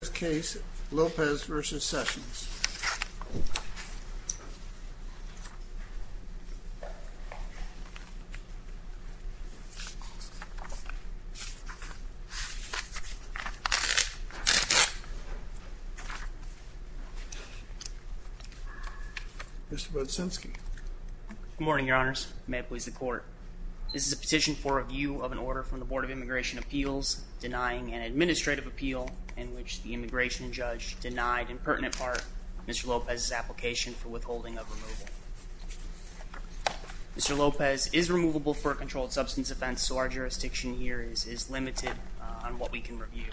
Rene Lopez v. Jefferson B. Sessions III Mr. Bodczynski Good morning, your honors. May it please the court. This is a petition for review of an order from the Board of Immigration Appeals denying an administrative appeal in which the immigration judge denied, in pertinent part, Mr. Lopez's application for withholding of removal. Mr. Lopez is removable for a controlled substance offense, so our jurisdiction here is limited on what we can review.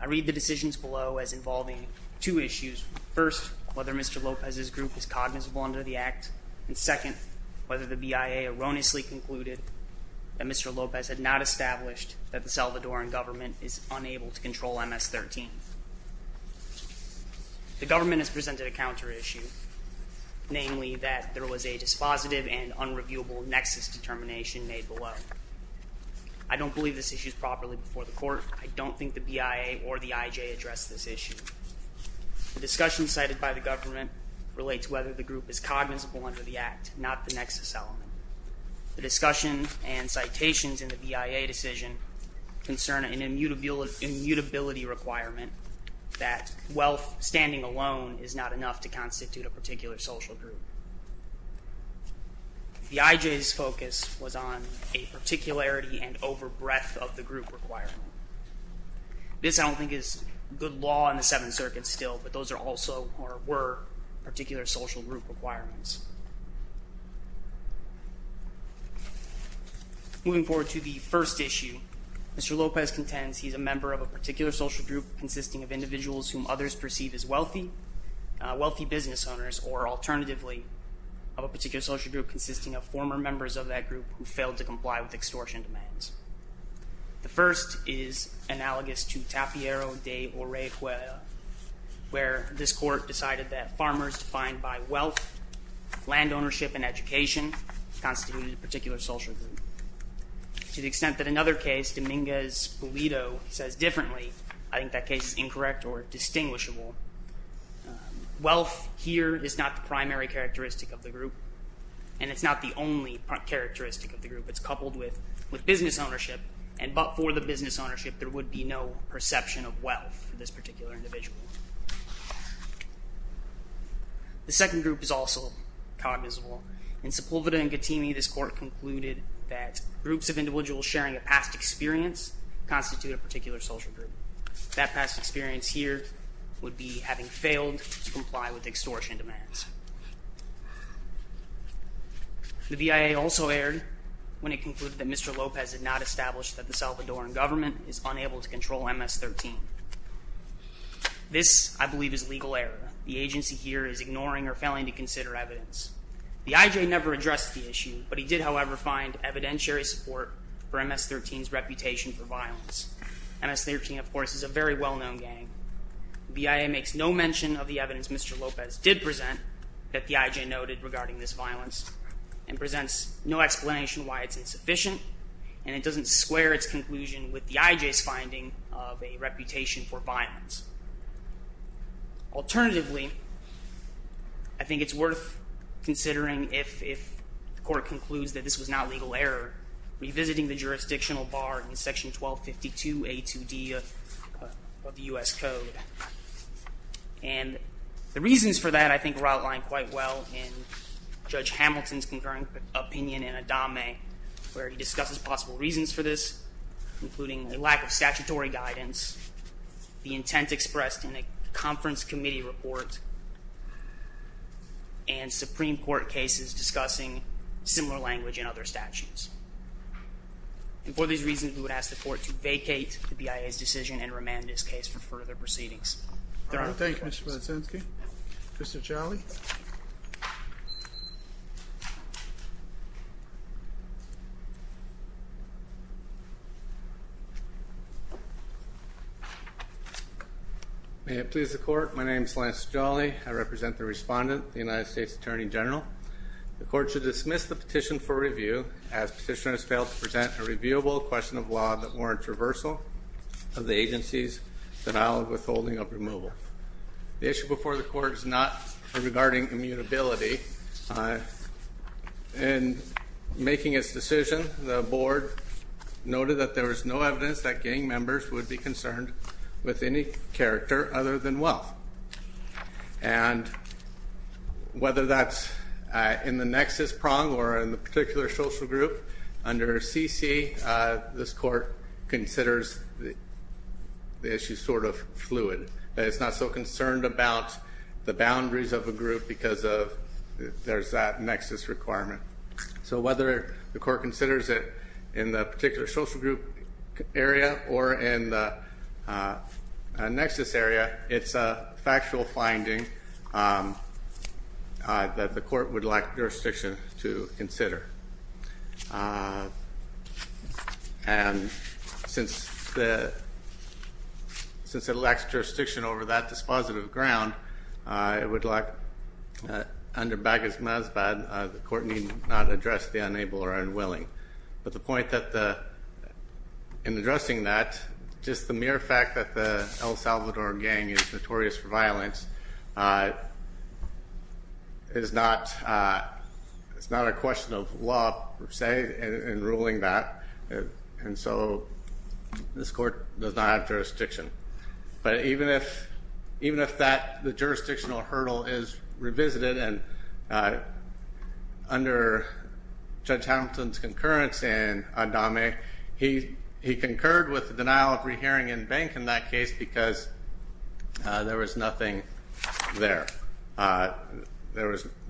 I read the decisions below as involving two issues. First, whether Mr. Lopez's group is cognizable under the act. And second, whether the BIA erroneously concluded that Mr. Lopez had not established that the Salvadoran government is unable to control MS-13. The government has presented a counter-issue, namely that there was a dispositive and unreviewable nexus determination made below. I don't believe this issue is properly before the court. I don't think the BIA or the IJ addressed this issue. The discussion cited by the government relates whether the group is cognizable under the act, not the nexus element. The discussion and citations in the BIA decision concern an immutability requirement that wealth standing alone is not enough to constitute a particular social group. The IJ's focus was on a particularity and over-breadth of the group requirement. This, I don't think, is good law in the Seventh Circuit still, but those are also, or were, particular social group requirements. Moving forward to the first issue, Mr. Lopez contends he's a member of a particular social group consisting of individuals whom others perceive as wealthy, wealthy business owners, or alternatively, of a particular social group consisting of former members of that group who failed to comply with extortion demands. The first is analogous to Tapiero de Orejuela, where this court decided that farmers defined by wealth, land ownership, and education constituted a particular social group. To the extent that another case, Dominguez-Pulido, says differently, I think that case is incorrect or distinguishable. Wealth here is not the primary characteristic of the group, and it's not the only characteristic of the group. It's coupled with business ownership, and but for the business ownership, there would be no perception of wealth for this particular individual. The second group is also cognizable. In Sepulveda and Gattini, this court concluded that groups of individuals sharing a past experience constitute a particular social group. That past experience here would be having failed to comply with extortion demands. The BIA also erred when it concluded that Mr. Lopez had not established that the Salvadoran government is unable to control MS-13. This, I believe, is legal error. The agency here is ignoring or failing to consider evidence. The IJ never addressed the issue, but he did, however, find evidentiary support for MS-13's reputation for violence. MS-13, of course, is a very well-known gang. The BIA makes no mention of the evidence Mr. Lopez did present that the IJ noted regarding this violence, and presents no explanation why it's insufficient, and it doesn't square its conclusion with the IJ's finding of a reputation for violence. Alternatively, I think it's worth considering, if the court concludes that this was not legal error, revisiting the jurisdictional bar in Section 1252A2D of the U.S. Code. And the reasons for that, I think, were outlined quite well in Judge Hamilton's concurrent opinion in Adame, where he discusses possible reasons for this, including a lack of statutory guidance, the intent expressed in a conference committee report, and Supreme Court cases discussing similar language in other statutes. And for these reasons, we would ask the court to vacate the BIA's decision and remand this case for further proceedings. Thank you, Mr. Brzezinski. Mr. Ciali. May it please the court, my name is Lance Ciali. I represent the respondent, the United States Attorney General. The court should dismiss the petition for review, as petitioner has failed to present a reviewable question of law that warrants reversal of the agency's denial of withholding of removal. The issue before the court is not regarding immutability. In making its decision, the board noted that there was no evidence that gang members would be concerned with any character other than wealth. And whether that's in the nexus prong or in the particular social group, under CC, this court considers the issue sort of fluid. It's not so concerned about the boundaries of a group because there's that nexus requirement. So whether the court considers it in the particular social group area or in the nexus area, it's a factual finding that the court would like jurisdiction to consider. And since it lacks jurisdiction over that dispositive ground, it would like, under Bagas-Mazbad, the court need not address the unable or unwilling. But the point in addressing that, just the mere fact that the El Salvador gang is notorious for violence, is not a question of law, per se, in ruling that. And so this court does not have jurisdiction. But even if that jurisdictional hurdle is revisited, and under Judge Hamilton's concurrence in Adame, he concurred with the denial of rehearing in Bank in that case because there was nothing there. There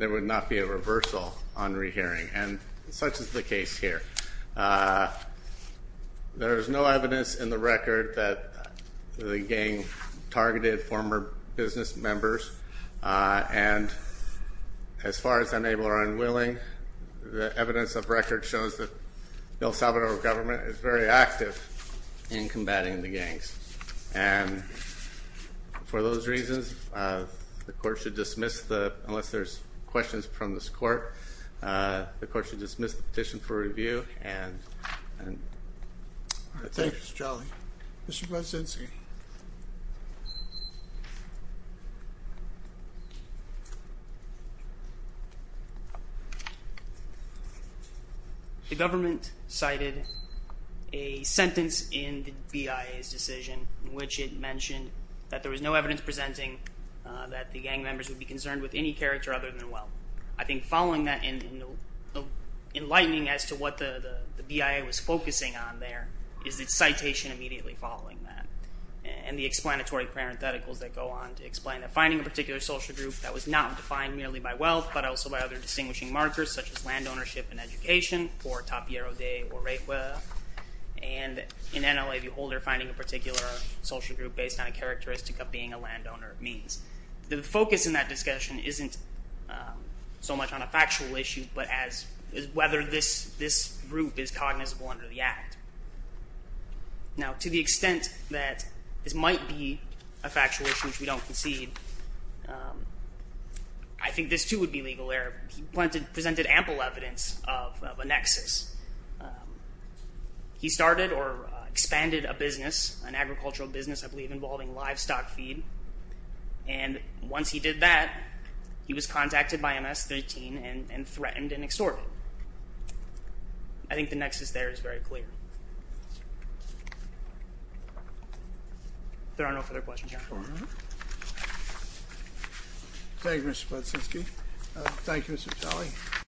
would not be a reversal on rehearing, and such is the case here. There is no evidence in the record that the gang targeted former business members. And as far as unable or unwilling, the evidence of record shows that the El Salvador government is very active in combating the gangs. And for those reasons, the court should dismiss the, unless there's questions from this court, the court should dismiss the petition for review. Thank you, Mr. Jolly. Mr. Brzezinski. Thank you. The government cited a sentence in the BIA's decision, in which it mentioned that there was no evidence presenting that the gang members would be concerned with any character other than wealth. I think following that, and enlightening as to what the BIA was focusing on there, is its citation immediately following that, and the explanatory parentheticals that go on to explain that. Finding a particular social group that was not defined merely by wealth, but also by other distinguishing markers, such as land ownership and education, or Tapierro de Urejuela. And in NLA, the holder finding a particular social group based on a characteristic of being a landowner means. The focus in that discussion isn't so much on a factual issue, but as whether this group is cognizable under the act. Now, to the extent that this might be a factual issue, which we don't concede, I think this, too, would be legal error. He presented ample evidence of a nexus. He started or expanded a business, an agricultural business, I believe involving livestock feed. And once he did that, he was contacted by MS-13 and threatened and extorted. I think the nexus there is very clear. There are no further questions, Your Honor. Thank you, Mr. Podsinski. Thank you, Mr. Talley.